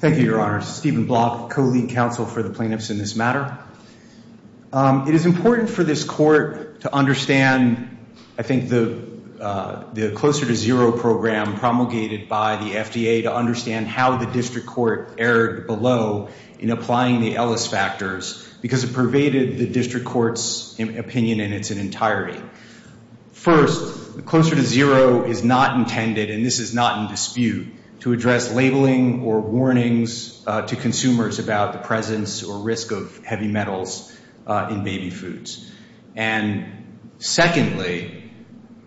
Thank you, Your Honor. Stephen Block, co-lead counsel for the plaintiffs in this matter. It is important for this court to understand, I think, the Closer to Zero program promulgated by the FDA to understand how the district court erred below in applying the Ellis factors because it pervaded the district court's opinion in its entirety. First, the Closer to Zero is not intended, and this is not in dispute, to address labeling or warnings to consumers about the presence or risk of heavy metals in baby foods. And secondly,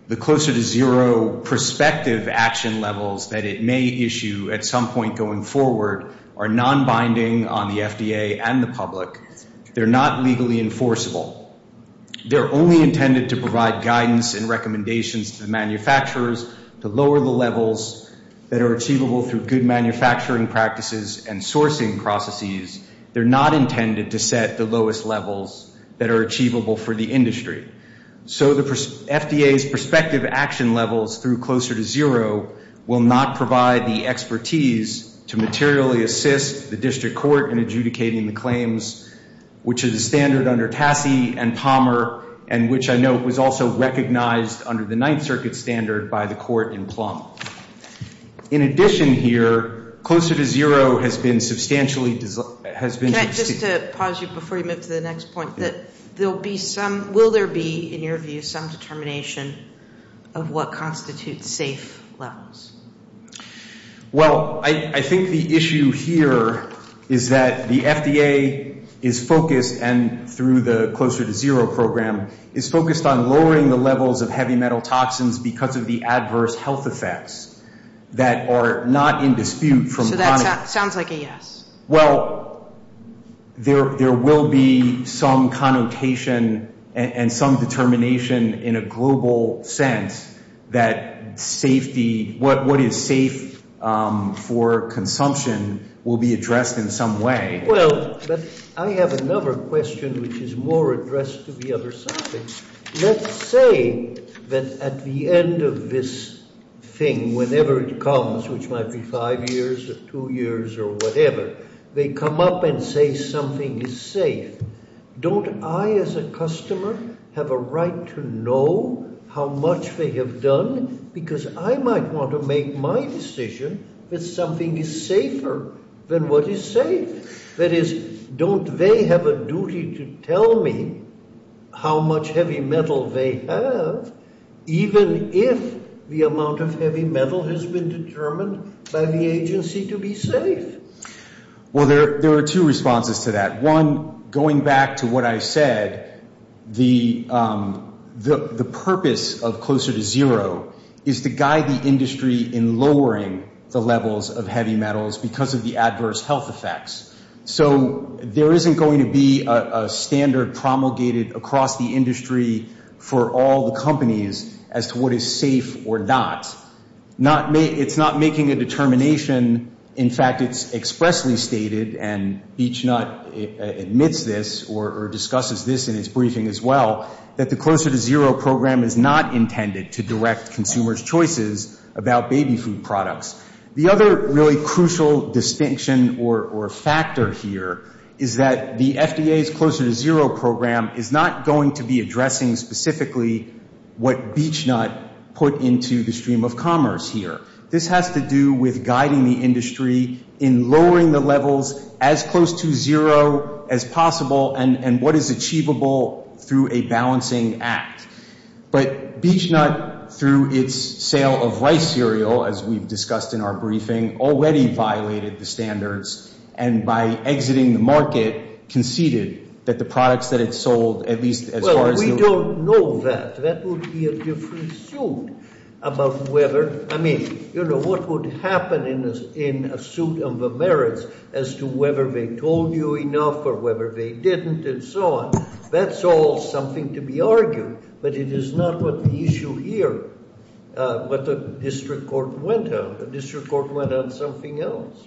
the Closer to Zero prospective action levels that it may issue at some point going forward are nonbinding on the FDA and the public. They're not legally enforceable. They're only intended to provide guidance and recommendations to the manufacturers to lower the levels that are achievable through good manufacturing practices and sourcing processes. They're not intended to set the lowest levels that are achievable for the industry. So the FDA's prospective action levels through Closer to Zero will not provide the expertise to materially assist the district court in adjudicating the claims, which is a standard under Tassie and Palmer and which I note was also recognized under the Ninth Circuit standard by the court in Plum. In addition here, Closer to Zero has been substantially – has been – Can I just pause you before you move to the next point, that there'll be some – will there be, in your view, some determination of what constitutes safe levels? Well, I think the issue here is that the FDA is focused and through the Closer to Zero program is focused on lowering the levels of heavy metal toxins because of the adverse health effects that are not in dispute from – So that sounds like a yes. Well, there will be some connotation and some determination in a global sense that safety – what is safe for consumption will be addressed in some way. Well, but I have another question which is more addressed to the other subject. Let's say that at the end of this thing, whenever it comes, which might be five years or two years or whatever, they come up and say something is safe. Don't I as a customer have a right to know how much they have done? Because I might want to make my decision that something is safer than what is safe. That is, don't they have a duty to tell me how much heavy metal they have even if the amount of heavy metal has been determined by the agency to be safe? Well, there are two responses to that. One, going back to what I said, the purpose of Closer to Zero is to guide the industry in lowering the levels of heavy metals because of the adverse health effects. So there isn't going to be a standard promulgated across the industry for all the companies as to what is safe or not. It's not making a determination. In fact, it's expressly stated, and BeachNut admits this or discusses this in its briefing as well, that the Closer to Zero program is not intended to direct consumers' choices about baby food products. The other really crucial distinction or factor here is that the FDA's Closer to Zero program is not going to be addressing specifically what BeachNut put into the stream of commerce here. This has to do with guiding the industry in lowering the levels as close to zero as possible and what is achievable through a balancing act. But BeachNut, through its sale of rice cereal, as we've discussed in our briefing, already violated the standards, and by exiting the market, conceded that the products that it sold, at least as far as the— Well, we don't know that. That would be a different suit about whether— I mean, you know, what would happen in a suit of the merits as to whether they told you enough or whether they didn't and so on. That's all something to be argued, but it is not what the issue here, what the district court went on. The district court went on something else.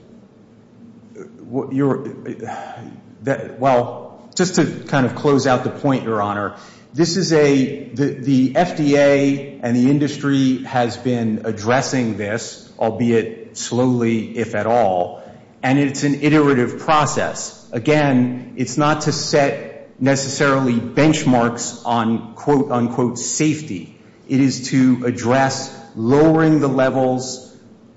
Well, just to kind of close out the point, Your Honor, this is a—the FDA and the industry has been addressing this, albeit slowly, if at all, and it's an iterative process. Again, it's not to set necessarily benchmarks on, quote, unquote, safety. It is to address lowering the levels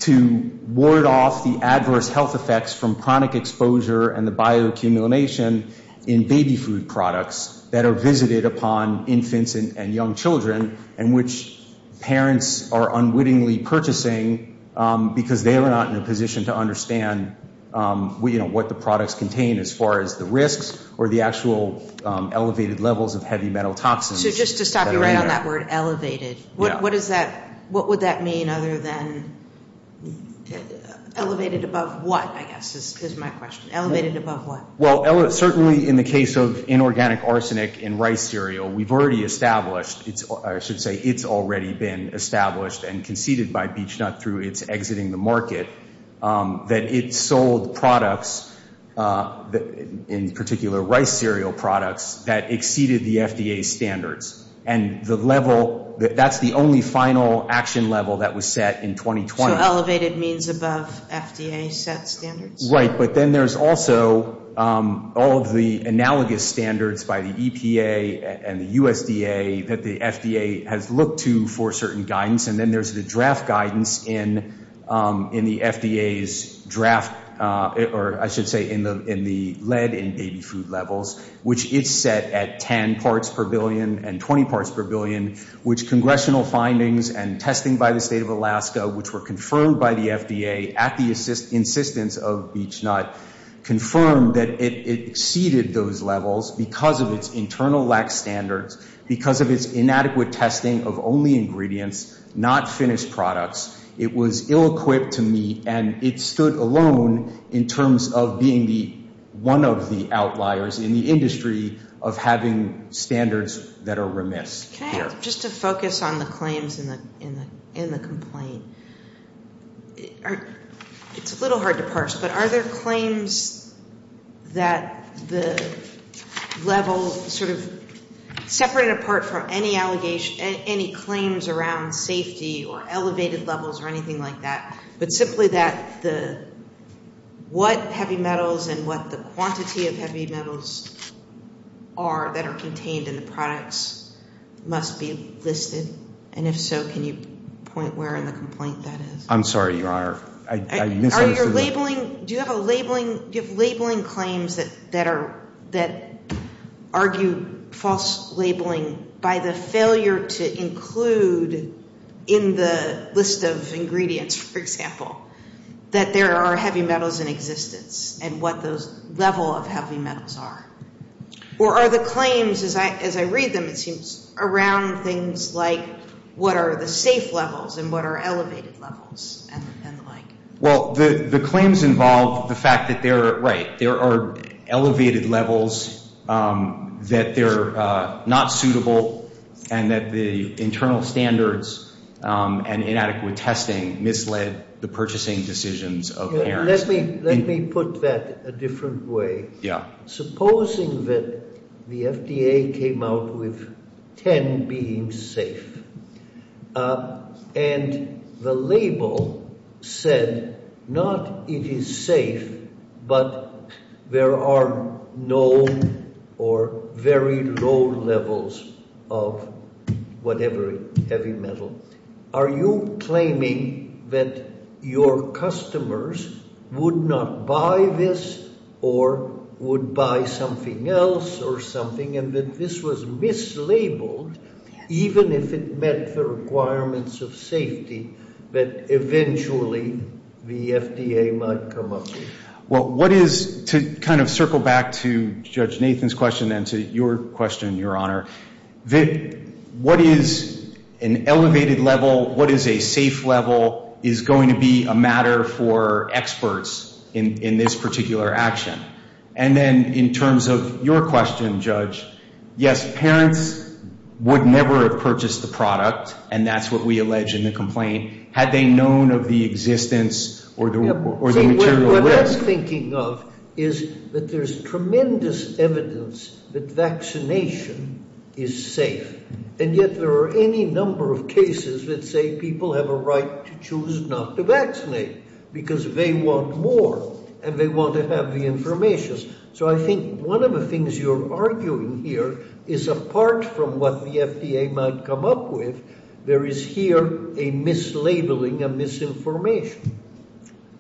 to ward off the adverse health effects from chronic exposure and the bioaccumulation in baby food products that are visited upon infants and young children and which parents are unwittingly purchasing because they are not in a position to understand, you know, what the products contain as far as the risks or the actual elevated levels of heavy metal toxins. So just to stop you right on that word, elevated, what would that mean other than— Elevated above what, I guess, is my question. Elevated above what? Well, certainly in the case of inorganic arsenic in rice cereal, we've already established— I should say it's already been established and conceded by BeechNut through its exiting the market that it sold products, in particular rice cereal products, that exceeded the FDA standards. And the level—that's the only final action level that was set in 2020. So elevated means above FDA set standards? Right, but then there's also all of the analogous standards by the EPA and the USDA that the FDA has looked to for certain guidance. And then there's the draft guidance in the FDA's draft—or I should say in the lead in baby food levels, which is set at 10 parts per billion and 20 parts per billion, which congressional findings and testing by the state of Alaska, which were confirmed by the FDA at the insistence of BeechNut, confirmed that it exceeded those levels because of its internal lax standards, because of its inadequate testing of only ingredients, not finished products. It was ill-equipped to meet and it stood alone in terms of being one of the outliers in the industry of having standards that are remiss. Just to focus on the claims in the complaint, it's a little hard to parse, but are there claims that the level sort of separated apart from any allegations— any claims around safety or elevated levels or anything like that, but simply that what heavy metals and what the quantity of heavy metals are that are contained in the products must be listed? And if so, can you point where in the complaint that is? I'm sorry. You are—I misunderstood. Are your labeling—do you have a labeling—do you have labeling claims that are— that argue false labeling by the failure to include in the list of ingredients, for example, that there are heavy metals in existence and what those level of heavy metals are? Or are the claims, as I read them, it seems, around things like what are the safe levels and what are elevated levels and the like? Well, the claims involve the fact that they're—right. There are elevated levels that they're not suitable and that the internal standards and inadequate testing misled the purchasing decisions of— Let me put that a different way. Yeah. Supposing that the FDA came out with 10 being safe and the label said not it is safe but there are no or very low levels of whatever heavy metal. Are you claiming that your customers would not buy this or would buy something else or something and that this was mislabeled even if it met the requirements of safety that eventually the FDA might come up with? Well, what is—to kind of circle back to Judge Nathan's question and to your question, Your Honor, what is an elevated level? What is a safe level is going to be a matter for experts in this particular action. And then in terms of your question, Judge, yes, parents would never have purchased the product and that's what we allege in the complaint had they known of the existence or the material risk. So what that's thinking of is that there's tremendous evidence that vaccination is safe and yet there are any number of cases that say people have a right to choose not to vaccinate because they want more and they want to have the information. So I think one of the things you're arguing here is apart from what the FDA might come up with, there is here a mislabeling, a misinformation.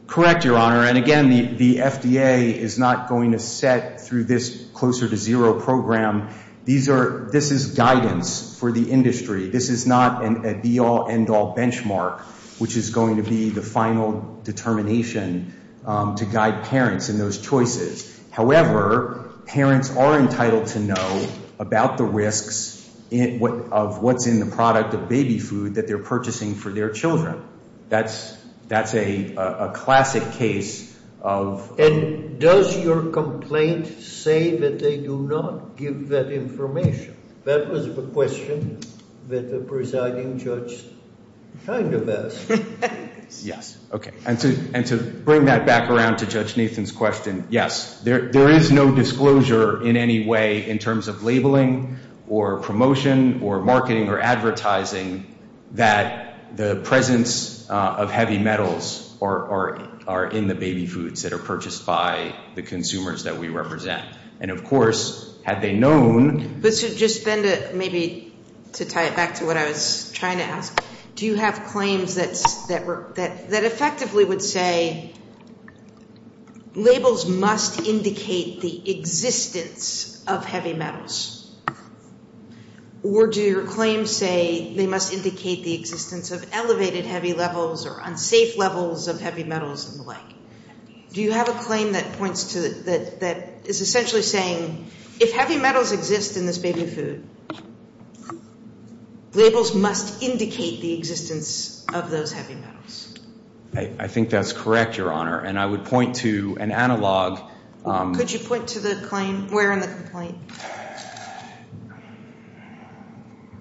Correct, Your Honor. And again, the FDA is not going to set through this closer to zero program. This is guidance for the industry. This is not a be-all, end-all benchmark, which is going to be the final determination to guide parents in those choices. However, parents are entitled to know about the risks of what's in the product of baby food that they're purchasing for their children. That's a classic case of— And does your complaint say that they do not give that information? That was the question that the presiding judge kind of asked. Yes. Okay. And to bring that back around to Judge Nathan's question, yes. There is no disclosure in any way in terms of labeling or promotion or marketing or advertising that the presence of heavy metals are in the baby foods that are purchased by the consumers that we represent. And, of course, had they known— But just then to maybe to tie it back to what I was trying to ask, do you have claims that effectively would say labels must indicate the existence of heavy metals? Or do your claims say they must indicate the existence of elevated heavy levels or unsafe levels of heavy metals and the like? Do you have a claim that points to—that is essentially saying, if heavy metals exist in this baby food, labels must indicate the existence of those heavy metals? I think that's correct, Your Honor, and I would point to an analog— Could you point to the claim? Where in the complaint?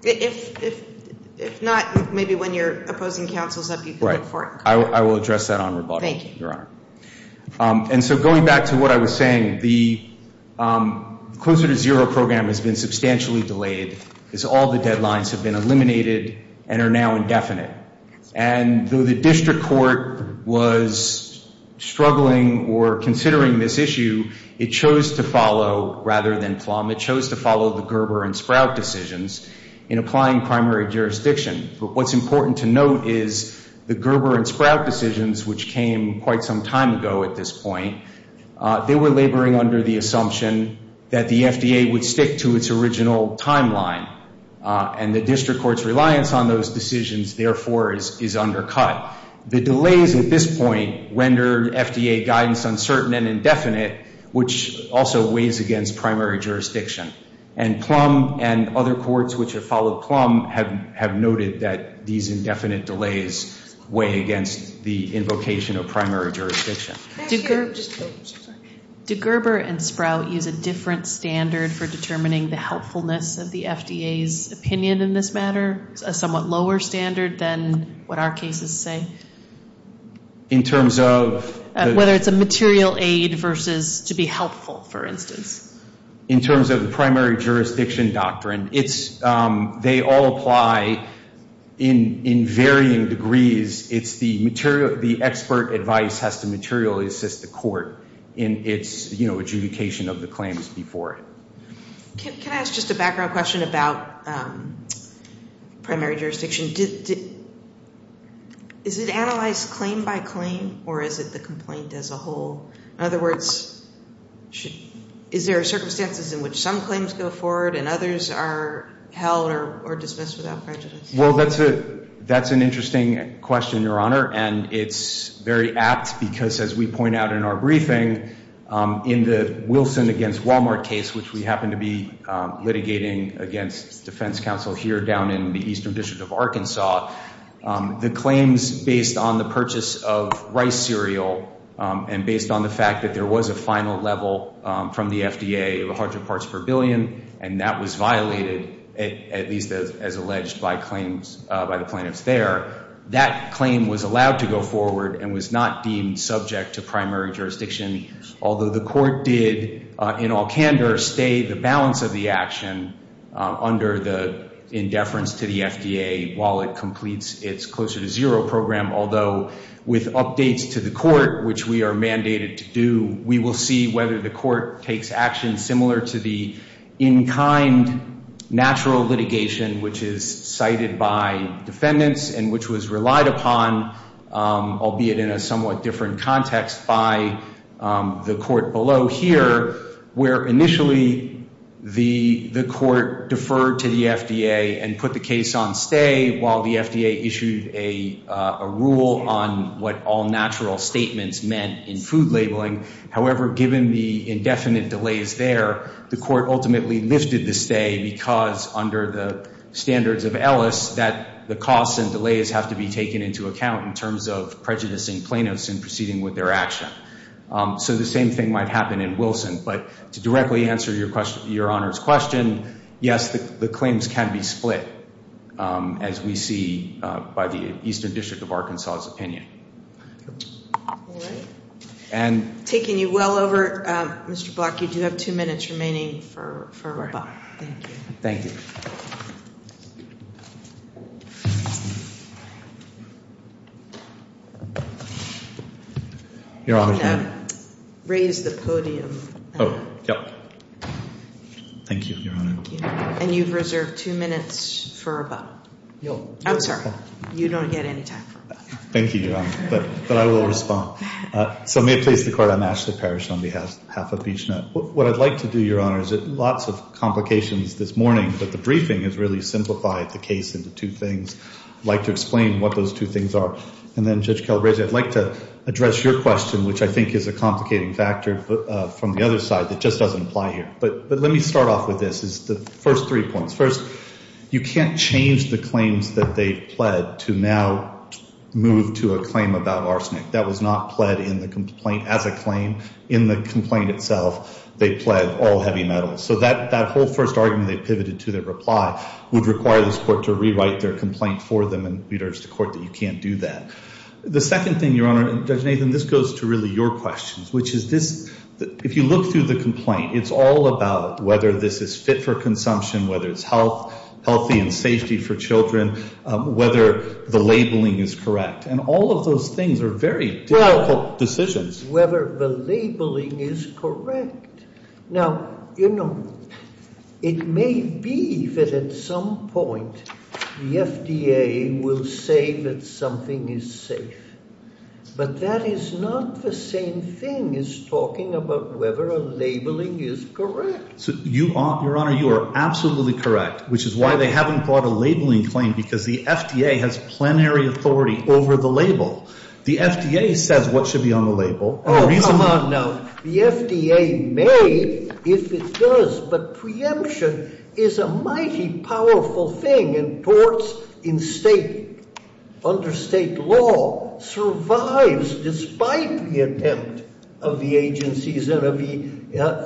If not, maybe when your opposing counsel is up, you can look for it. Right. I will address that on rebuttal, Your Honor. Thank you. And so going back to what I was saying, the Closer to Zero program has been substantially delayed because all the deadlines have been eliminated and are now indefinite. And though the district court was struggling or considering this issue, it chose to follow—rather than Plum—it chose to follow the Gerber and Sprout decisions in applying primary jurisdiction. But what's important to note is the Gerber and Sprout decisions, which came quite some time ago at this point, they were laboring under the assumption that the FDA would stick to its original timeline. And the district court's reliance on those decisions, therefore, is undercut. The delays at this point rendered FDA guidance uncertain and indefinite, which also weighs against primary jurisdiction. And Plum and other courts which have followed Plum have noted that these indefinite delays weigh against the invocation of primary jurisdiction. Do Gerber and Sprout use a different standard for determining the helpfulness of the FDA's opinion in this matter? A somewhat lower standard than what our cases say? In terms of— Whether it's a material aid versus to be helpful, for instance. In terms of the primary jurisdiction doctrine, they all apply in varying degrees. The expert advice has to materially assist the court in its adjudication of the claims before it. Can I ask just a background question about primary jurisdiction? Is it analyzed claim by claim, or is it the complaint as a whole? In other words, is there circumstances in which some claims go forward and others are held or dismissed without prejudice? Well, that's an interesting question, Your Honor. And it's very apt because, as we point out in our briefing, in the Wilson against Walmart case, which we happen to be litigating against defense counsel here down in the Eastern District of Arkansas, the claims based on the purchase of rice cereal and based on the fact that there was a final level from the FDA of 100 parts per billion, and that was violated, at least as alleged by the plaintiffs there, that claim was allowed to go forward and was not deemed subject to primary jurisdiction, although the court did, in all candor, stay the balance of the action under the indeference to the FDA while it completes its Closer to Zero program. Although with updates to the court, which we are mandated to do, we will see whether the court takes action similar to the in-kind natural litigation, which is cited by defendants and which was relied upon, albeit in a somewhat different context, by the court below here, where initially the court deferred to the FDA and put the case on stay while the FDA issued a rule on what all natural statements meant in food labeling. However, given the indefinite delays there, the court ultimately lifted the stay because under the standards of Ellis that the costs and delays have to be taken into account in terms of prejudicing plaintiffs in proceeding with their action. So the same thing might happen in Wilson. But to directly answer your Honor's question, yes, the claims can be split, as we see by the Eastern District of Arkansas' opinion. All right. Taking you well over, Mr. Block, you do have two minutes remaining for rebuttal. Thank you. Thank you. Your Honor. I'm going to raise the podium. Oh, yeah. Thank you, Your Honor. Thank you. And you've reserved two minutes for rebuttal. No. I'm sorry. You don't get any time for rebuttal. Thank you, Your Honor. But I will respond. So may it please the Court, I'm Ashley Parrish on behalf of Peach Net. What I'd like to do, Your Honor, is lots of complications this morning, but the briefing has really simplified the case into two things. I'd like to explain what those two things are. And then, Judge Calabresi, I'd like to address your question, which I think is a complicating factor from the other side that just doesn't apply here. But let me start off with this, is the first three points. First, you can't change the claims that they've pled to now move to a claim about arsenic. That was not pled in the complaint as a claim. In the complaint itself, they pled all heavy metals. So that whole first argument they pivoted to, their reply, would require this Court to rewrite their complaint for them and reiterate to the Court that you can't do that. The second thing, Your Honor, and, Judge Nathan, this goes to really your questions, which is this, if you look through the complaint, it's all about whether this is fit for consumption, whether it's healthy and safety for children, whether the labeling is correct. And all of those things are very difficult decisions. Well, whether the labeling is correct. Now, you know, it may be that at some point the FDA will say that something is safe. But that is not the same thing as talking about whether a labeling is correct. So you, Your Honor, you are absolutely correct, which is why they haven't brought a labeling claim because the FDA has plenary authority over the label. The FDA says what should be on the label. Oh, come on now. The FDA may if it does. But preemption is a mighty powerful thing and torts in state, under state law, survives despite the attempt of the agencies and of the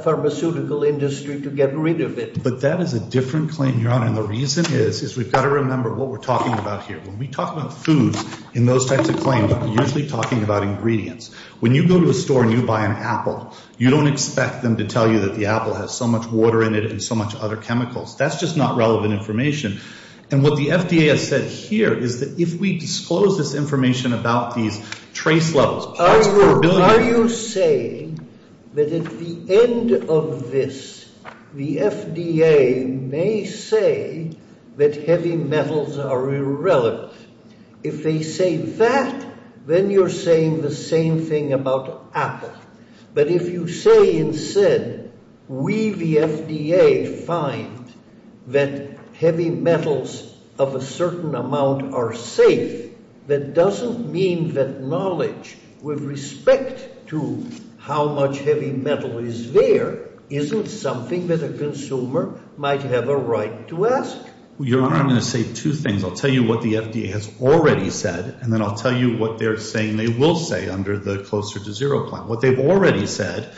pharmaceutical industry to get rid of it. But that is a different claim, Your Honor. And the reason is, is we've got to remember what we're talking about here. When we talk about foods in those types of claims, we're usually talking about ingredients. You don't expect them to tell you that the apple has so much water in it and so much other chemicals. That's just not relevant information. And what the FDA has said here is that if we disclose this information about these trace levels. Are you saying that at the end of this, the FDA may say that heavy metals are irrelevant? If they say that, then you're saying the same thing about apple. But if you say instead, we, the FDA, find that heavy metals of a certain amount are safe, that doesn't mean that knowledge with respect to how much heavy metal is there isn't something that a consumer might have a right to ask. Your Honor, I'm going to say two things. I'll tell you what the FDA has already said. And then I'll tell you what they're saying they will say under the Closer to Zero Plan. What they've already said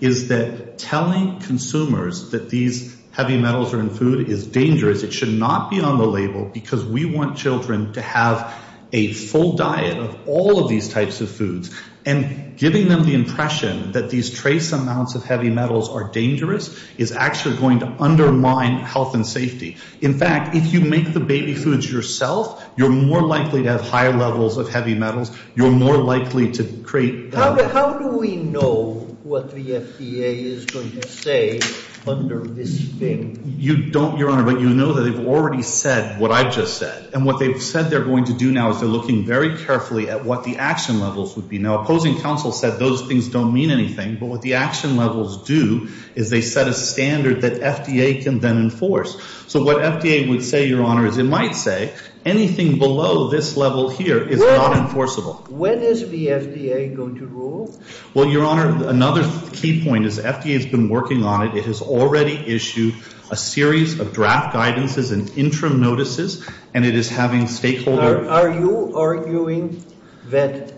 is that telling consumers that these heavy metals are in food is dangerous. It should not be on the label because we want children to have a full diet of all of these types of foods. And giving them the impression that these trace amounts of heavy metals are dangerous is actually going to undermine health and safety. In fact, if you make the baby foods yourself, you're more likely to have higher levels of heavy metals. You're more likely to create – How do we know what the FDA is going to say under this thing? You don't, Your Honor, but you know that they've already said what I just said. And what they've said they're going to do now is they're looking very carefully at what the action levels would be. Now, opposing counsel said those things don't mean anything. But what the action levels do is they set a standard that FDA can then enforce. So what FDA would say, Your Honor, is it might say anything below this level here is not enforceable. When is the FDA going to rule? Well, Your Honor, another key point is the FDA has been working on it. It has already issued a series of draft guidances and interim notices, and it is having stakeholders. Are you arguing that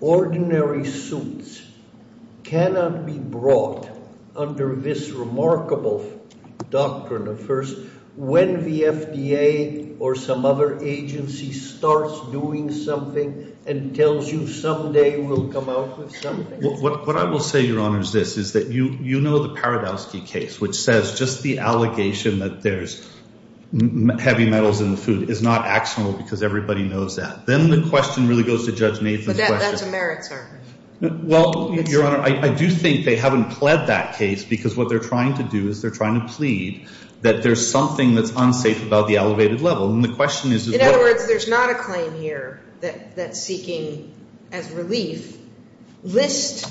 ordinary suits cannot be brought under this remarkable doctrine of first – when the FDA or some other agency starts doing something and tells you someday we'll come out with something? What I will say, Your Honor, is this, is that you know the Paradowski case, which says just the allegation that there's heavy metals in the food is not actionable because everybody knows that. Then the question really goes to Judge Nathan's question. But that's a merits argument. Well, Your Honor, I do think they haven't pled that case because what they're trying to do is they're trying to plead that there's something that's unsafe about the elevated level. And the question is – In other words, there's not a claim here that's seeking, as relief, list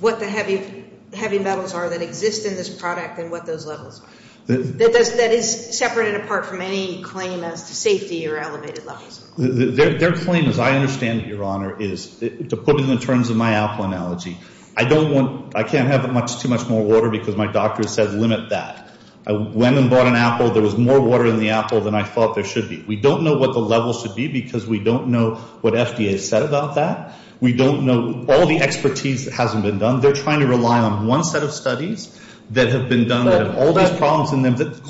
what the heavy metals are that exist in this product and what those levels are. That is separate and apart from any claim as to safety or elevated levels. Their claim, as I understand it, Your Honor, is to put it in terms of my apple analogy. I don't want – I can't have too much more water because my doctor said limit that. I went and bought an apple. There was more water in the apple than I thought there should be. We don't know what the level should be because we don't know what FDA has said about that. We don't know all the expertise that hasn't been done. They're trying to rely on one set of studies that have been done that have all these problems in them. But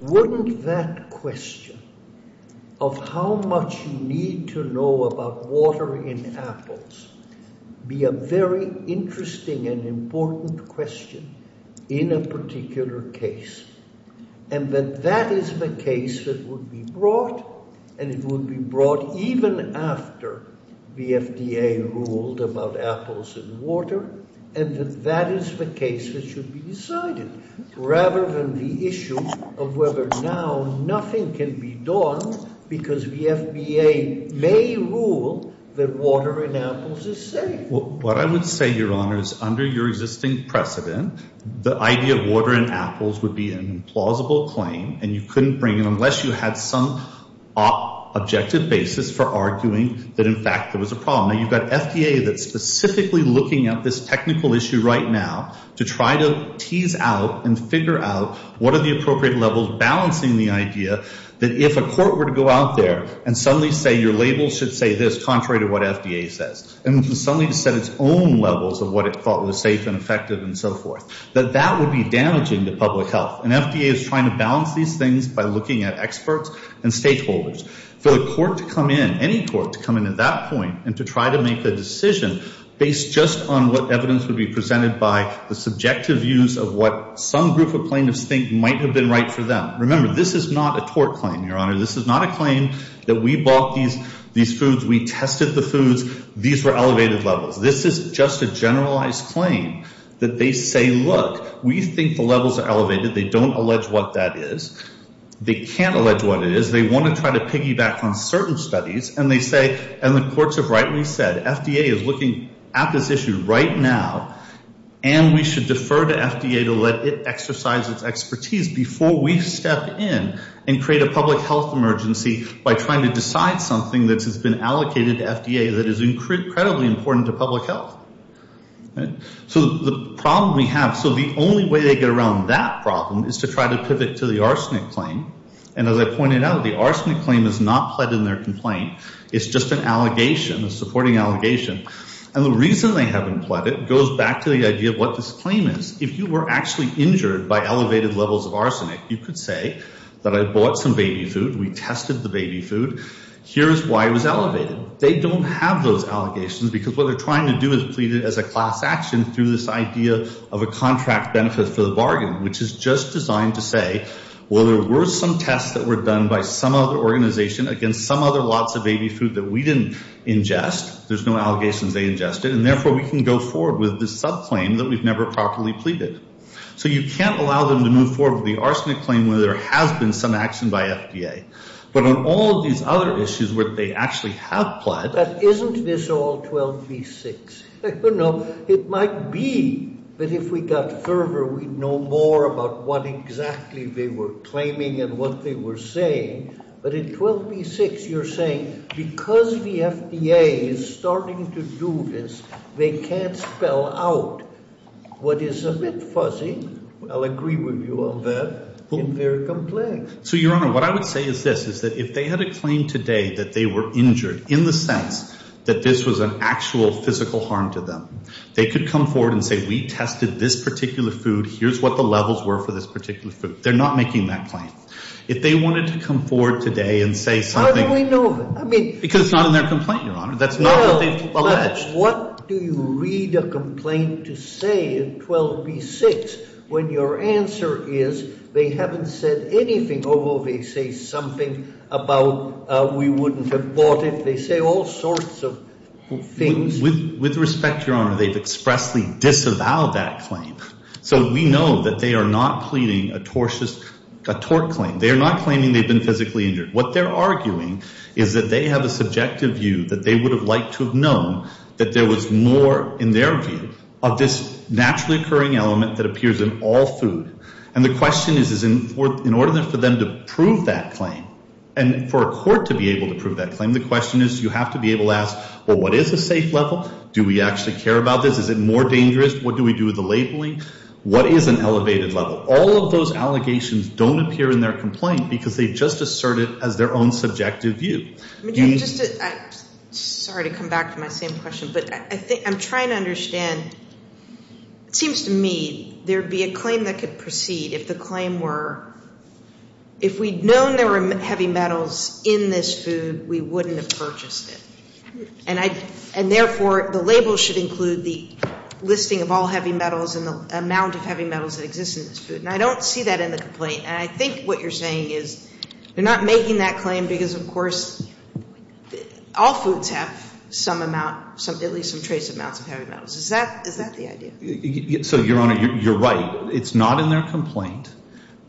wouldn't that question of how much you need to know about water in apples be a very interesting and important question in a particular case and that that is the case that would be brought and it would be brought even after the FDA ruled about apples and water and that that is the case that should be decided rather than the issue of whether now nothing can be done because the FDA may rule that water in apples is safe. What I would say, Your Honor, is under your existing precedent, the idea of water in apples would be an implausible claim and you couldn't bring it unless you had some objective basis for arguing that, in fact, there was a problem. Now, you've got FDA that's specifically looking at this technical issue right now to try to tease out and figure out what are the appropriate levels balancing the idea that if a court were to go out there and suddenly say your label should say this contrary to what FDA says and suddenly set its own levels of what it thought was safe and effective and so forth, that that would be damaging to public health. And FDA is trying to balance these things by looking at experts and stakeholders. For the court to come in, any court to come in at that point and to try to make a decision based just on what evidence would be presented by the subjective views of what some group of plaintiffs think might have been right for them. Remember, this is not a tort claim, Your Honor. This is not a claim that we bought these foods, we tested the foods, these were elevated levels. This is just a generalized claim that they say, look, we think the levels are elevated, they don't allege what that is. They can't allege what it is. They want to try to piggyback on certain studies and they say, and the courts have rightly said, FDA is looking at this issue right now and we should defer to FDA to let it exercise its expertise before we step in and create a public health emergency by trying to decide something that has been allocated to FDA that is incredibly important to public health. So the problem we have, so the only way they get around that problem is to try to pivot to the arsenic claim. And as I pointed out, the arsenic claim is not pled in their complaint. It's just an allegation, a supporting allegation. And the reason they haven't pled it goes back to the idea of what this claim is. If you were actually injured by elevated levels of arsenic, you could say that I bought some baby food, we tested the baby food, here is why it was elevated. But they don't have those allegations because what they're trying to do is plead it as a class action through this idea of a contract benefit for the bargain, which is just designed to say, well, there were some tests that were done by some other organization against some other lots of baby food that we didn't ingest, there's no allegations they ingested, and therefore we can go forward with this subclaim that we've never properly pleaded. So you can't allow them to move forward with the arsenic claim where there has been some action by FDA. But on all of these other issues where they actually have pled. Isn't this all 12B6? No, it might be, but if we got further, we'd know more about what exactly they were claiming and what they were saying. But in 12B6, you're saying because the FDA is starting to do this, they can't spell out what is a bit fuzzy. I'll agree with you on that. In their complaint. So, Your Honor, what I would say is this, is that if they had a claim today that they were injured, in the sense that this was an actual physical harm to them, they could come forward and say, we tested this particular food, here's what the levels were for this particular food. They're not making that claim. If they wanted to come forward today and say something. How do we know? Because it's not in their complaint, Your Honor. That's not what they've alleged. What do you read a complaint to say in 12B6 when your answer is they haven't said anything, although they say something about we wouldn't have bought it. They say all sorts of things. With respect, Your Honor, they've expressly disavowed that claim. So we know that they are not pleading a tort claim. They are not claiming they've been physically injured. What they're arguing is that they have a subjective view that they would have liked to have known that there was more in their view of this naturally occurring element that appears in all food. And the question is, in order for them to prove that claim, and for a court to be able to prove that claim, the question is you have to be able to ask, well, what is a safe level? Do we actually care about this? Is it more dangerous? What do we do with the labeling? What is an elevated level? But all of those allegations don't appear in their complaint because they just assert it as their own subjective view. I'm sorry to come back to my same question, but I'm trying to understand. It seems to me there would be a claim that could proceed if the claim were, if we'd known there were heavy metals in this food, we wouldn't have purchased it. And therefore, the label should include the listing of all heavy metals and the amount of heavy metals that exist in this food. And I don't see that in the complaint. And I think what you're saying is they're not making that claim because, of course, all foods have some amount, at least some trace amounts of heavy metals. Is that the idea? So, Your Honor, you're right. It's not in their complaint.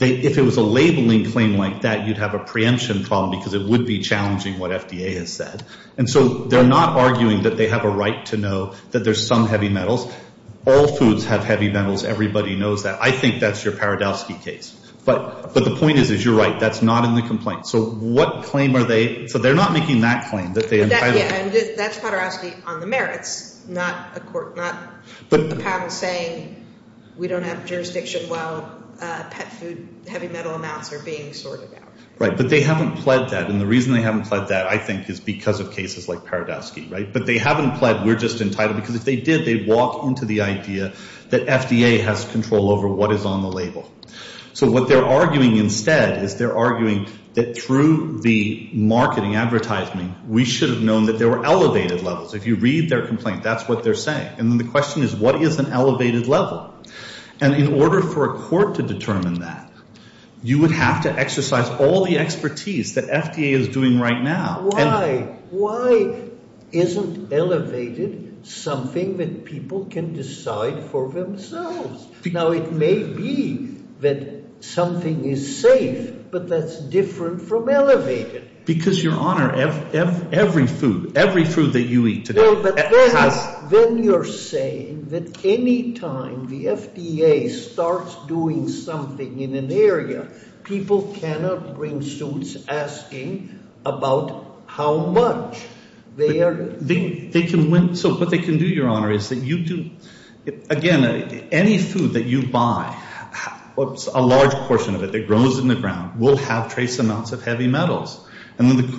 If it was a labeling claim like that, you'd have a preemption problem because it would be challenging what FDA has said. And so they're not arguing that they have a right to know that there's some heavy metals. All foods have heavy metals. Everybody knows that. I think that's your Paradowski case. But the point is, is you're right. That's not in the complaint. So what claim are they? So they're not making that claim. And that's Paradowski on the merits, not a panel saying we don't have jurisdiction while pet food heavy metal amounts are being sorted out. Right. But they haven't pled that. And the reason they haven't pled that, I think, is because of cases like Paradowski. Right. But they haven't pled we're just entitled because if they did, they'd walk into the idea that FDA has control over what is on the label. So what they're arguing instead is they're arguing that through the marketing advertisement, we should have known that there were elevated levels. If you read their complaint, that's what they're saying. And then the question is, what is an elevated level? And in order for a court to determine that, you would have to exercise all the expertise that FDA is doing right now. Why? Why isn't elevated something that people can decide for themselves? Now, it may be that something is safe, but that's different from elevated. Because, Your Honor, every food, every food that you eat today has— People cannot bring suits asking about how much they are eating. So what they can do, Your Honor, is that you do— Again, any food that you buy, a large portion of it that grows in the ground, will have trace amounts of heavy metals.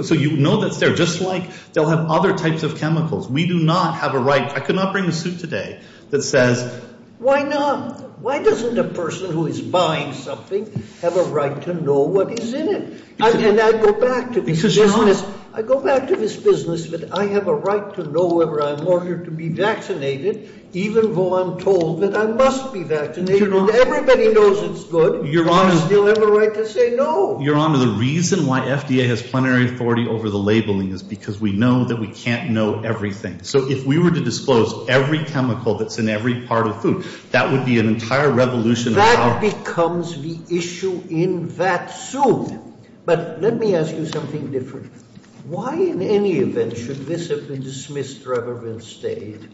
So you know that's there. Just like they'll have other types of chemicals. We do not have a right—I could not bring a suit today that says, Why not? Why doesn't a person who is buying something have a right to know what is in it? And I go back to this business. I go back to this business that I have a right to know whether I'm ordered to be vaccinated, even though I'm told that I must be vaccinated. Everybody knows it's good. Do I still have a right to say no? Your Honor, the reason why FDA has plenary authority over the labeling is because we know that we can't know everything. So if we were to disclose every chemical that's in every part of food, that would be an entire revolution. That becomes the issue in that suit. But let me ask you something different. Why in any event should this have been dismissed rather than stayed?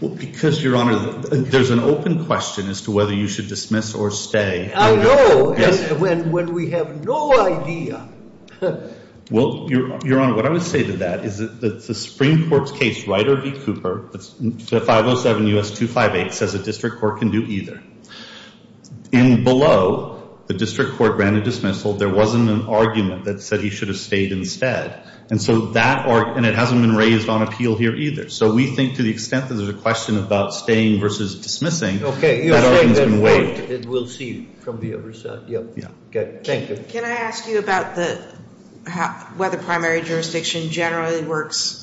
Well, because, Your Honor, there's an open question as to whether you should dismiss or stay. I know. Yes. When we have no idea. Well, Your Honor, what I would say to that is that the Supreme Court's case, Ryder v. Cooper, 507 U.S. 258, says a district court can do either. And below the district court granted dismissal, there wasn't an argument that said he should have stayed instead. And so that argument hasn't been raised on appeal here either. So we think to the extent that there's a question about staying versus dismissing, that argument has been waived. We'll see from the other side. Thank you. Can I ask you about whether primary jurisdiction generally works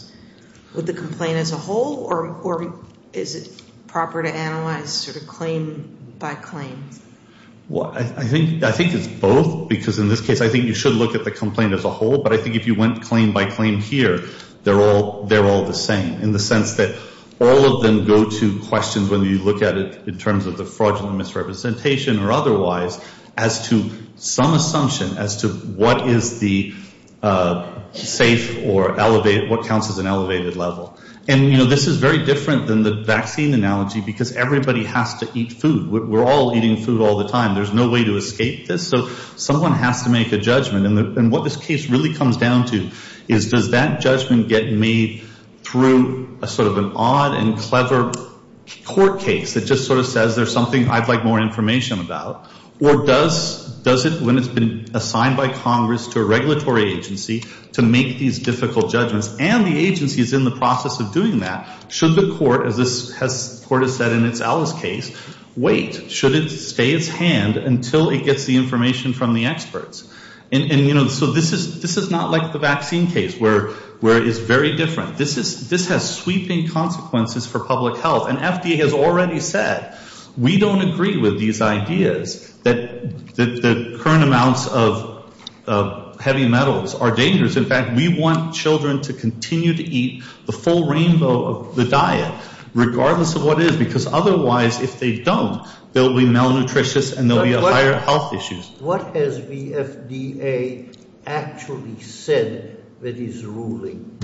with the complaint as a whole or is it proper to analyze sort of claim by claim? I think it's both because in this case I think you should look at the complaint as a whole. But I think if you went claim by claim here, they're all the same, in the sense that all of them go to questions whether you look at it in terms of the fraudulent misrepresentation or otherwise as to some assumption as to what is the safe or what counts as an elevated level. And, you know, this is very different than the vaccine analogy because everybody has to eat food. We're all eating food all the time. There's no way to escape this. So someone has to make a judgment. And what this case really comes down to is does that judgment get made through sort of an odd and clever court case that just sort of says there's something I'd like more information about, or does it when it's been assigned by Congress to a regulatory agency to make these difficult judgments and the agency is in the process of doing that, should the court, as the court has said in its Alice case, wait. Should it stay its hand until it gets the information from the experts? And, you know, so this is not like the vaccine case where it is very different. This has sweeping consequences for public health. And FDA has already said we don't agree with these ideas that the current amounts of heavy metals are dangerous. In fact, we want children to continue to eat the full rainbow of the diet regardless of what it is because otherwise if they don't, they'll be malnutritious and there'll be a higher health issue. What has the FDA actually said that is ruling?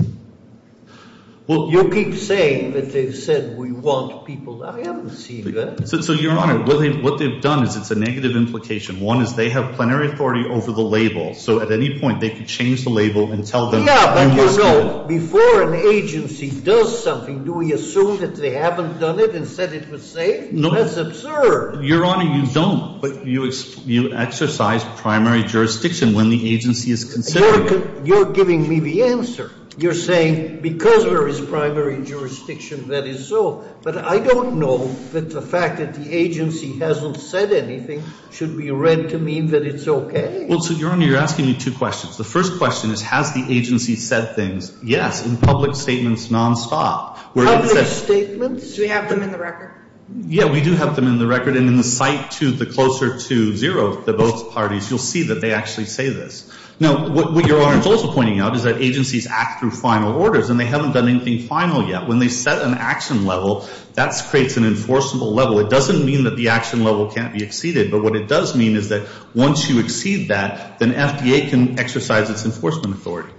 Well, you keep saying that they've said we want people. I haven't seen that. So, Your Honor, what they've done is it's a negative implication. One is they have plenary authority over the label. So at any point they could change the label and tell them who must get it. Yeah, but, you know, before an agency does something, do we assume that they haven't done it and said it was safe? No. That's absurd. Your Honor, you don't, but you exercise primary jurisdiction when the agency is considering it. You're giving me the answer. You're saying because there is primary jurisdiction that is so, but I don't know that the fact that the agency hasn't said anything should be read to mean that it's okay. Well, so, Your Honor, you're asking me two questions. The first question is has the agency said things? Yes, in public statements nonstop. Public statements? Do we have them in the record? Yeah, we do have them in the record, and in the site to the closer to zero to both parties, you'll see that they actually say this. Now, what Your Honor is also pointing out is that agencies act through final orders, and they haven't done anything final yet. When they set an action level, that creates an enforceable level. It doesn't mean that the action level can't be exceeded, but what it does mean is that once you exceed that, then FDA can exercise its enforcement authority.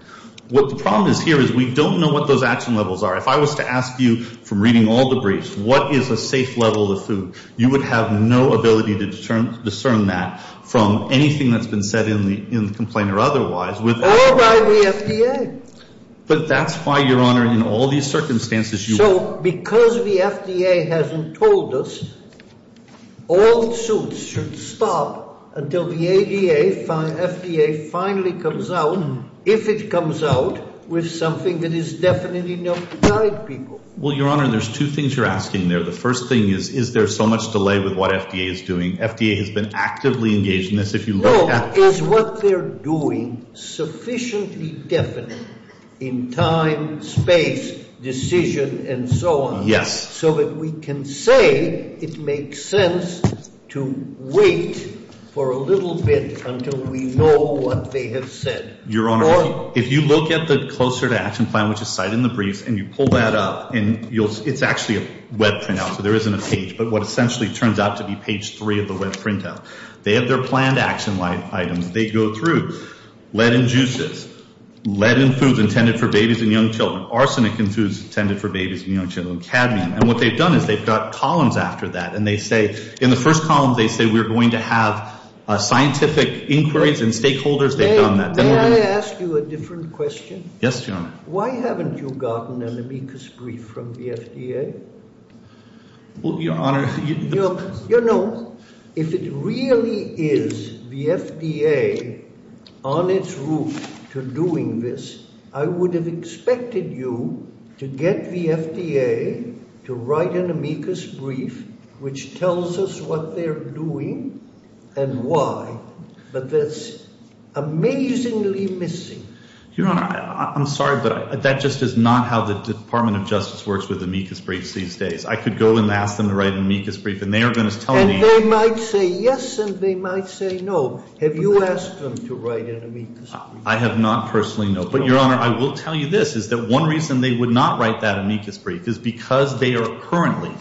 What the problem is here is we don't know what those action levels are. If I was to ask you, from reading all the briefs, what is a safe level of food, you would have no ability to discern that from anything that's been said in the complaint or otherwise. All by the FDA. But that's why, Your Honor, in all these circumstances, you – So because the FDA hasn't told us, all suits should stop until the FDA finally comes out, if it comes out with something that is definite enough to guide people. Well, Your Honor, there's two things you're asking there. The first thing is, is there so much delay with what FDA is doing? FDA has been actively engaged in this. Look, is what they're doing sufficiently definite in time, space, decision, and so on, so that we can say it makes sense to wait for a little bit until we know what they have said? Your Honor, if you look at the Closer to Action Plan, which is cited in the briefs, and you pull that up, it's actually a web printout, so there isn't a page, but what essentially turns out to be page three of the web printout. They have their planned action items. They go through lead in juices, lead in foods intended for babies and young children, arsenic in foods intended for babies and young children, and what they've done is they've got columns after that, and they say in the first column, they say we're going to have scientific inquiries and stakeholders. They've done that. May I ask you a different question? Yes, Your Honor. Why haven't you gotten an amicus brief from the FDA? Well, Your Honor, you know, if it really is the FDA on its route to doing this, I would have expected you to get the FDA to write an amicus brief, which tells us what they're doing and why, but that's amazingly missing. Your Honor, I'm sorry, but that just is not how the Department of Justice works with amicus briefs these days. I could go and ask them to write an amicus brief, and they are going to tell me— And they might say yes, and they might say no. Have you asked them to write an amicus brief? I have not personally, no. But, Your Honor, I will tell you this is that one reason they would not write that amicus brief is because they are currently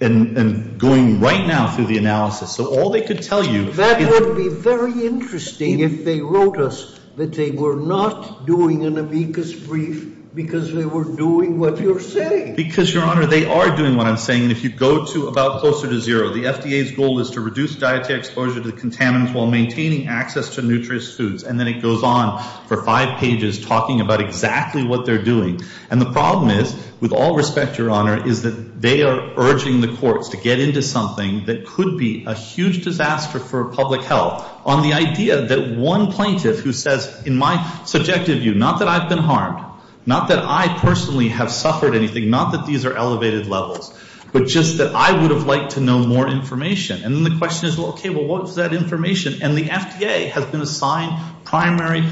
and going right now through the analysis, so all they could tell you— That would be very interesting if they wrote us that they were not doing an amicus brief because they were doing what you're saying. Because, Your Honor, they are doing what I'm saying, and if you go to about closer to zero, the FDA's goal is to reduce dietary exposure to the contaminants while maintaining access to nutritious foods, and then it goes on for five pages talking about exactly what they're doing. And the problem is, with all respect, Your Honor, is that they are urging the courts to get into something that could be a huge disaster for public health on the idea that one plaintiff who says, in my subjective view, not that I've been harmed, not that I personally have suffered anything, not that these are elevated levels, but just that I would have liked to know more information. And then the question is, well, okay, well, what is that information? And the FDA has been assigned primary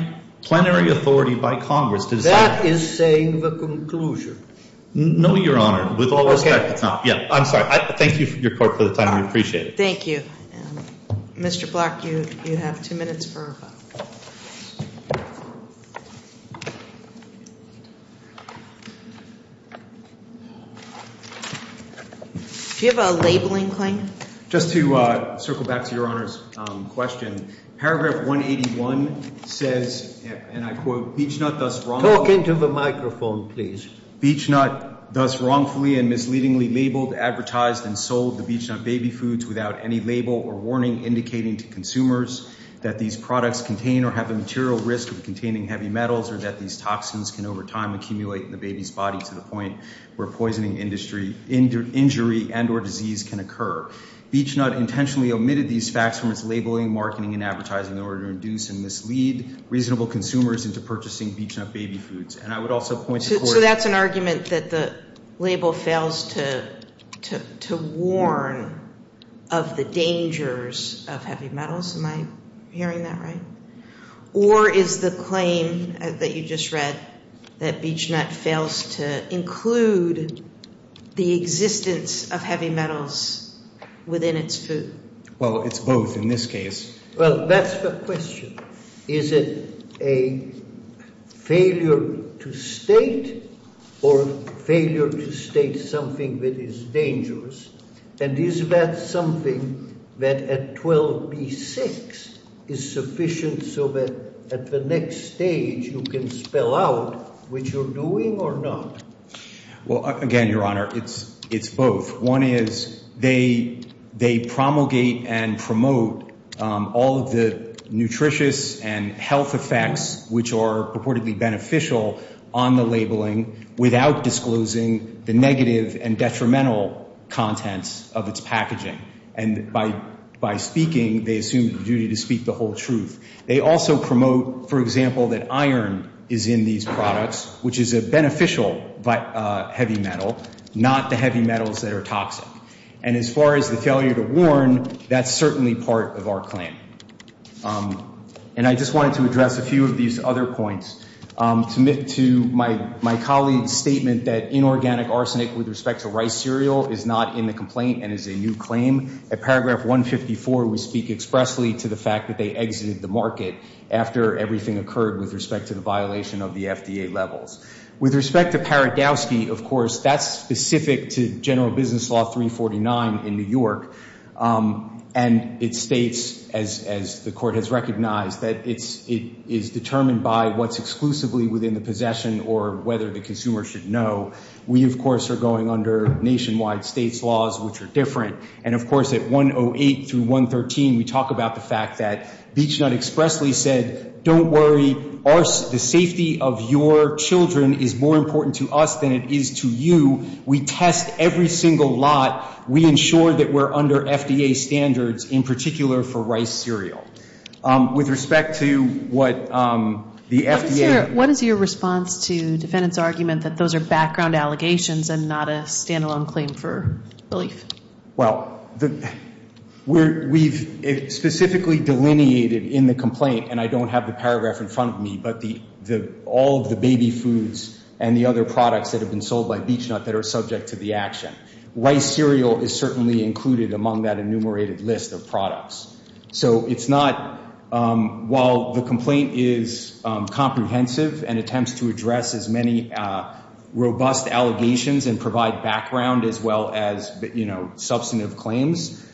plenary authority by Congress to decide. That is saying the conclusion. No, Your Honor. With all respect, it's not. Okay. Yeah, I'm sorry. Thank you, Your Court, for the time. We appreciate it. Thank you. Mr. Block, you have two minutes for a vote. Do you have a labeling claim? Just to circle back to Your Honor's question, paragraph 181 says, and I quote, Beech-Nut thus wrongfully and misleadingly labeled, advertised, and sold the Beech-Nut baby foods without any label or warning indicating to consumers that these products contain or have a material risk of containing heavy metals or that these toxins can, over time, accumulate in the baby's body to the point where poisoning, injury, and or disease can occur. Beech-Nut intentionally omitted these facts from its labeling, marketing, and advertising in order to induce and mislead reasonable consumers into purchasing Beech-Nut baby foods. And I would also point to court. So that's an argument that the label fails to warn of the dangers of heavy metals. Am I hearing that right? Or is the claim that you just read that Beech-Nut fails to include the existence of heavy metals within its food? Well, it's both in this case. Well, that's the question. Is it a failure to state or failure to state something that is dangerous? And is that something that at 12B6 is sufficient so that at the next stage you can spell out what you're doing or not? Well, again, Your Honor, it's both. One is they promulgate and promote all of the nutritious and health effects which are purportedly beneficial on the labeling without disclosing the negative and detrimental contents of its packaging. And by speaking, they assume the duty to speak the whole truth. They also promote, for example, that iron is in these products, which is a beneficial heavy metal, not the heavy metals that are toxic. And as far as the failure to warn, that's certainly part of our claim. And I just wanted to address a few of these other points. To my colleague's statement that inorganic arsenic with respect to rice cereal is not in the complaint and is a new claim, at paragraph 154 we speak expressly to the fact that they exited the market after everything occurred with respect to the violation of the FDA levels. With respect to Paragowsky, of course, that's specific to General Business Law 349 in New York, and it states, as the Court has recognized, that it is determined by what's exclusively within the possession or whether the consumer should know. We, of course, are going under nationwide states' laws, which are different. And, of course, at 108 through 113, we talk about the fact that BeachNut expressly said, don't worry, the safety of your children is more important to us than it is to you. We test every single lot. We ensure that we're under FDA standards, in particular for rice cereal. With respect to what the FDA- What is your response to defendant's argument that those are background allegations and not a standalone claim for relief? Well, we've specifically delineated in the complaint, and I don't have the paragraph in front of me, but all of the baby foods and the other products that have been sold by BeachNut that are subject to the action. So it's not- While the complaint is comprehensive and attempts to address as many robust allegations and provide background as well as substantive claims,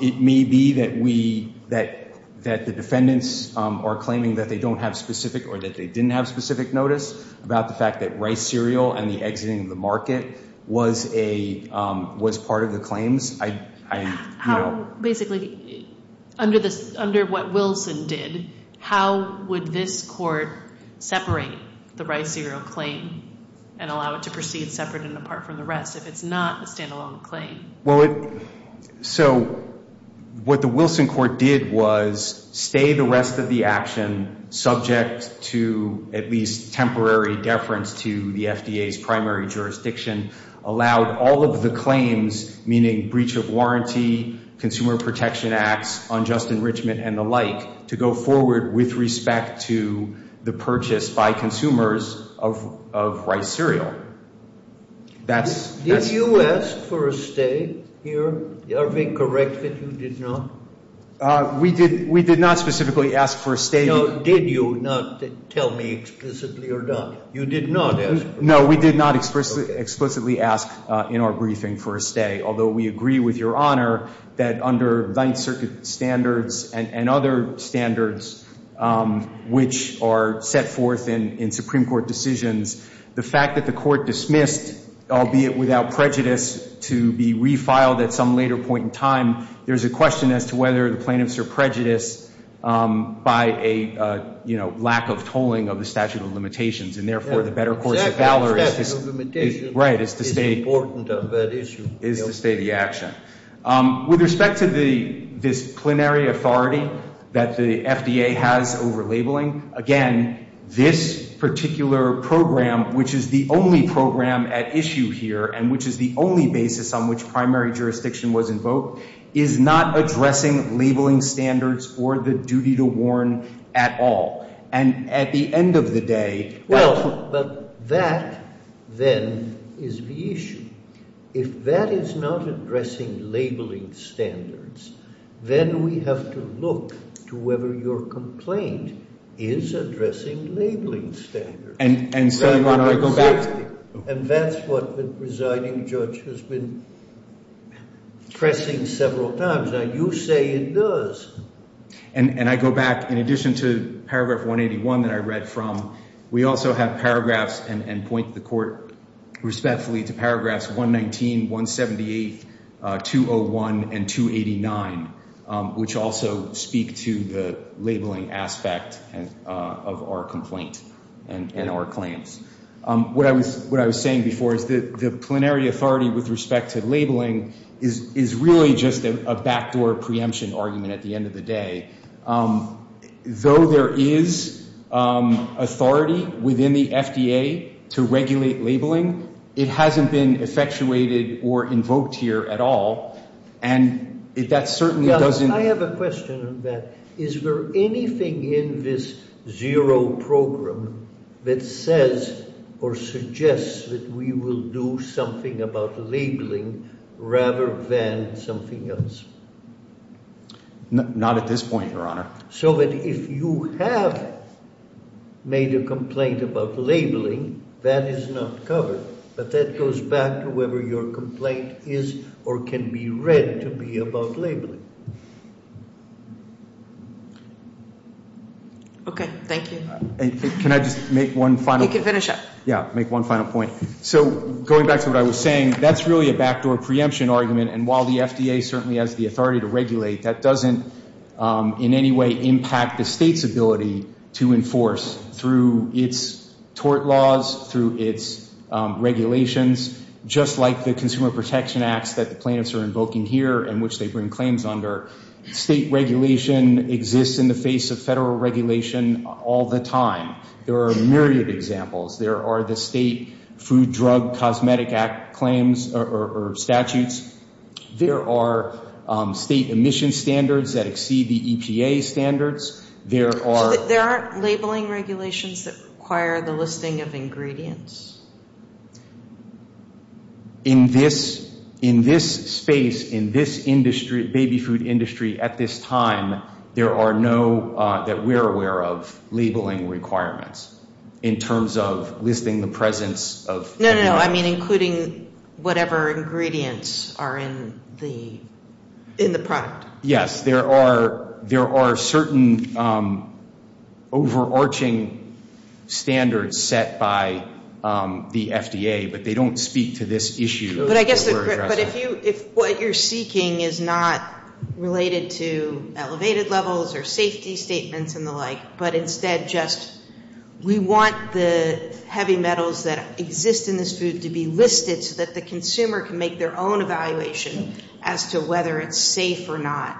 it may be that the defendants are claiming that they don't have specific or that they didn't have specific notice about the fact that rice cereal Basically, under what Wilson did, how would this court separate the rice cereal claim and allow it to proceed separate and apart from the rest if it's not a standalone claim? Well, so what the Wilson court did was stay the rest of the action subject to at least temporary deference to the FDA's primary jurisdiction, allowed all of the claims, meaning breach of warranty, consumer protection acts, unjust enrichment, and the like, to go forward with respect to the purchase by consumers of rice cereal. Did you ask for a stay here? Are we correct that you did not? We did not specifically ask for a stay. Did you not tell me explicitly or not? You did not ask for a stay? No, we did not explicitly ask in our briefing for a stay, although we agree with Your Honor that under Ninth Circuit standards and other standards which are set forth in Supreme Court decisions, the fact that the court dismissed, albeit without prejudice, to be refiled at some later point in time, there's a question as to whether the plaintiffs are prejudiced by a lack of tolling of the statute of limitations, and therefore the better course of valor is to stay the action. With respect to the disciplinary authority that the FDA has over labeling, again, this particular program, which is the only program at issue here and which is the only basis on which primary jurisdiction was invoked, is not addressing labeling standards or the duty to warn at all. And at the end of the day— Well, but that then is the issue. If that is not addressing labeling standards, then we have to look to whether your complaint is addressing labeling standards. And so, Your Honor, I go back to the— And that's what the presiding judge has been pressing several times. Now, you say it does. And I go back, in addition to Paragraph 181 that I read from, we also have paragraphs and point the court respectfully to Paragraphs 119, 178, 201, and 289, which also speak to the labeling aspect of our complaint and our claims. What I was saying before is that the plenary authority with respect to labeling is really just a backdoor preemption argument at the end of the day. Though there is authority within the FDA to regulate labeling, it hasn't been effectuated or invoked here at all. And that certainly doesn't— suggests that we will do something about labeling rather than something else. Not at this point, Your Honor. So that if you have made a complaint about labeling, that is not covered. But that goes back to whether your complaint is or can be read to be about labeling. Okay. Thank you. Can I just make one final point? You can finish up. Yeah, make one final point. So going back to what I was saying, that's really a backdoor preemption argument. And while the FDA certainly has the authority to regulate, that doesn't in any way impact the state's ability to enforce through its tort laws, through its regulations, just like the Consumer Protection Acts that the plaintiffs are invoking here and which they bring claims under. State regulation exists in the face of federal regulation all the time. There are a myriad of examples. There are the state Food Drug Cosmetic Act claims or statutes. There are state emission standards that exceed the EPA standards. There are— So there aren't labeling regulations that require the listing of ingredients? In this space, in this industry, baby food industry, at this time, there are no, that we're aware of, labeling requirements in terms of listing the presence of— No, no, no. I mean including whatever ingredients are in the product. Yes. There are certain overarching standards set by the FDA, but they don't speak to this issue that we're addressing. But if what you're seeking is not related to elevated levels or safety statements and the like, but instead just we want the heavy metals that exist in this food to be listed so that the consumer can make their own evaluation as to whether it's safe or not,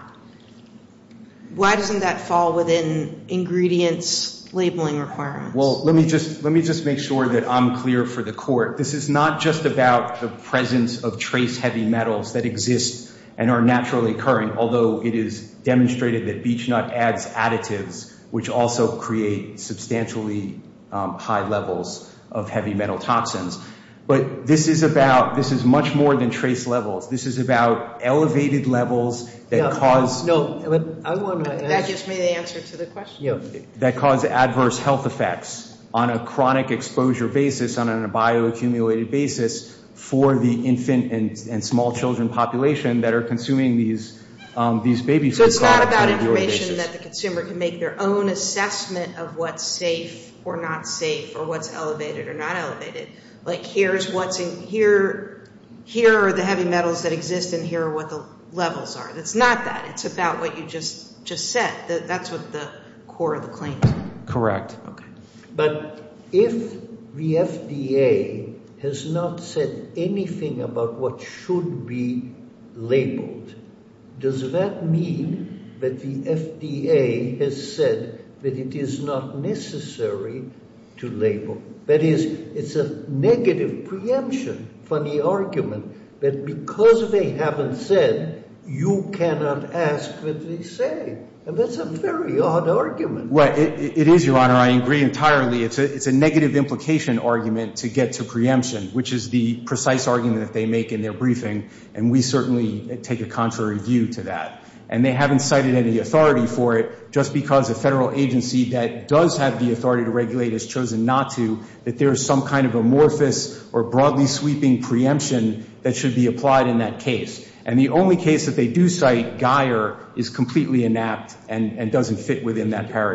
why doesn't that fall within ingredients labeling requirements? Well, let me just make sure that I'm clear for the Court. This is not just about the presence of trace heavy metals that exist and are naturally occurring, although it is demonstrated that beech nut adds additives, which also create substantially high levels of heavy metal toxins. But this is about—this is much more than trace levels. This is about elevated levels that cause— No, no. That gives me the answer to the question. That cause adverse health effects on a chronic exposure basis, on a bioaccumulated basis for the infant and small children population that are consuming these baby food products. So it's not about information that the consumer can make their own assessment of what's safe or not safe or what's elevated or not elevated. Like here are the heavy metals that exist and here are what the levels are. It's not that. It's about what you just said. That's what the core of the claim is. Correct. Okay. But if the FDA has not said anything about what should be labeled, does that mean that the FDA has said that it is not necessary to label? That is, it's a negative preemption for the argument that because they haven't said, you cannot ask what they say. And that's a very odd argument. Well, it is, Your Honor. I agree entirely. It's a negative implication argument to get to preemption, which is the precise argument that they make in their briefing, and we certainly take a contrary view to that. And they haven't cited any authority for it just because a federal agency that does have the authority to regulate has chosen not to, that there is some kind of amorphous or broadly sweeping preemption that should be applied in that case. And the only case that they do cite, Guyer, is completely inept and doesn't fit within that paradigm.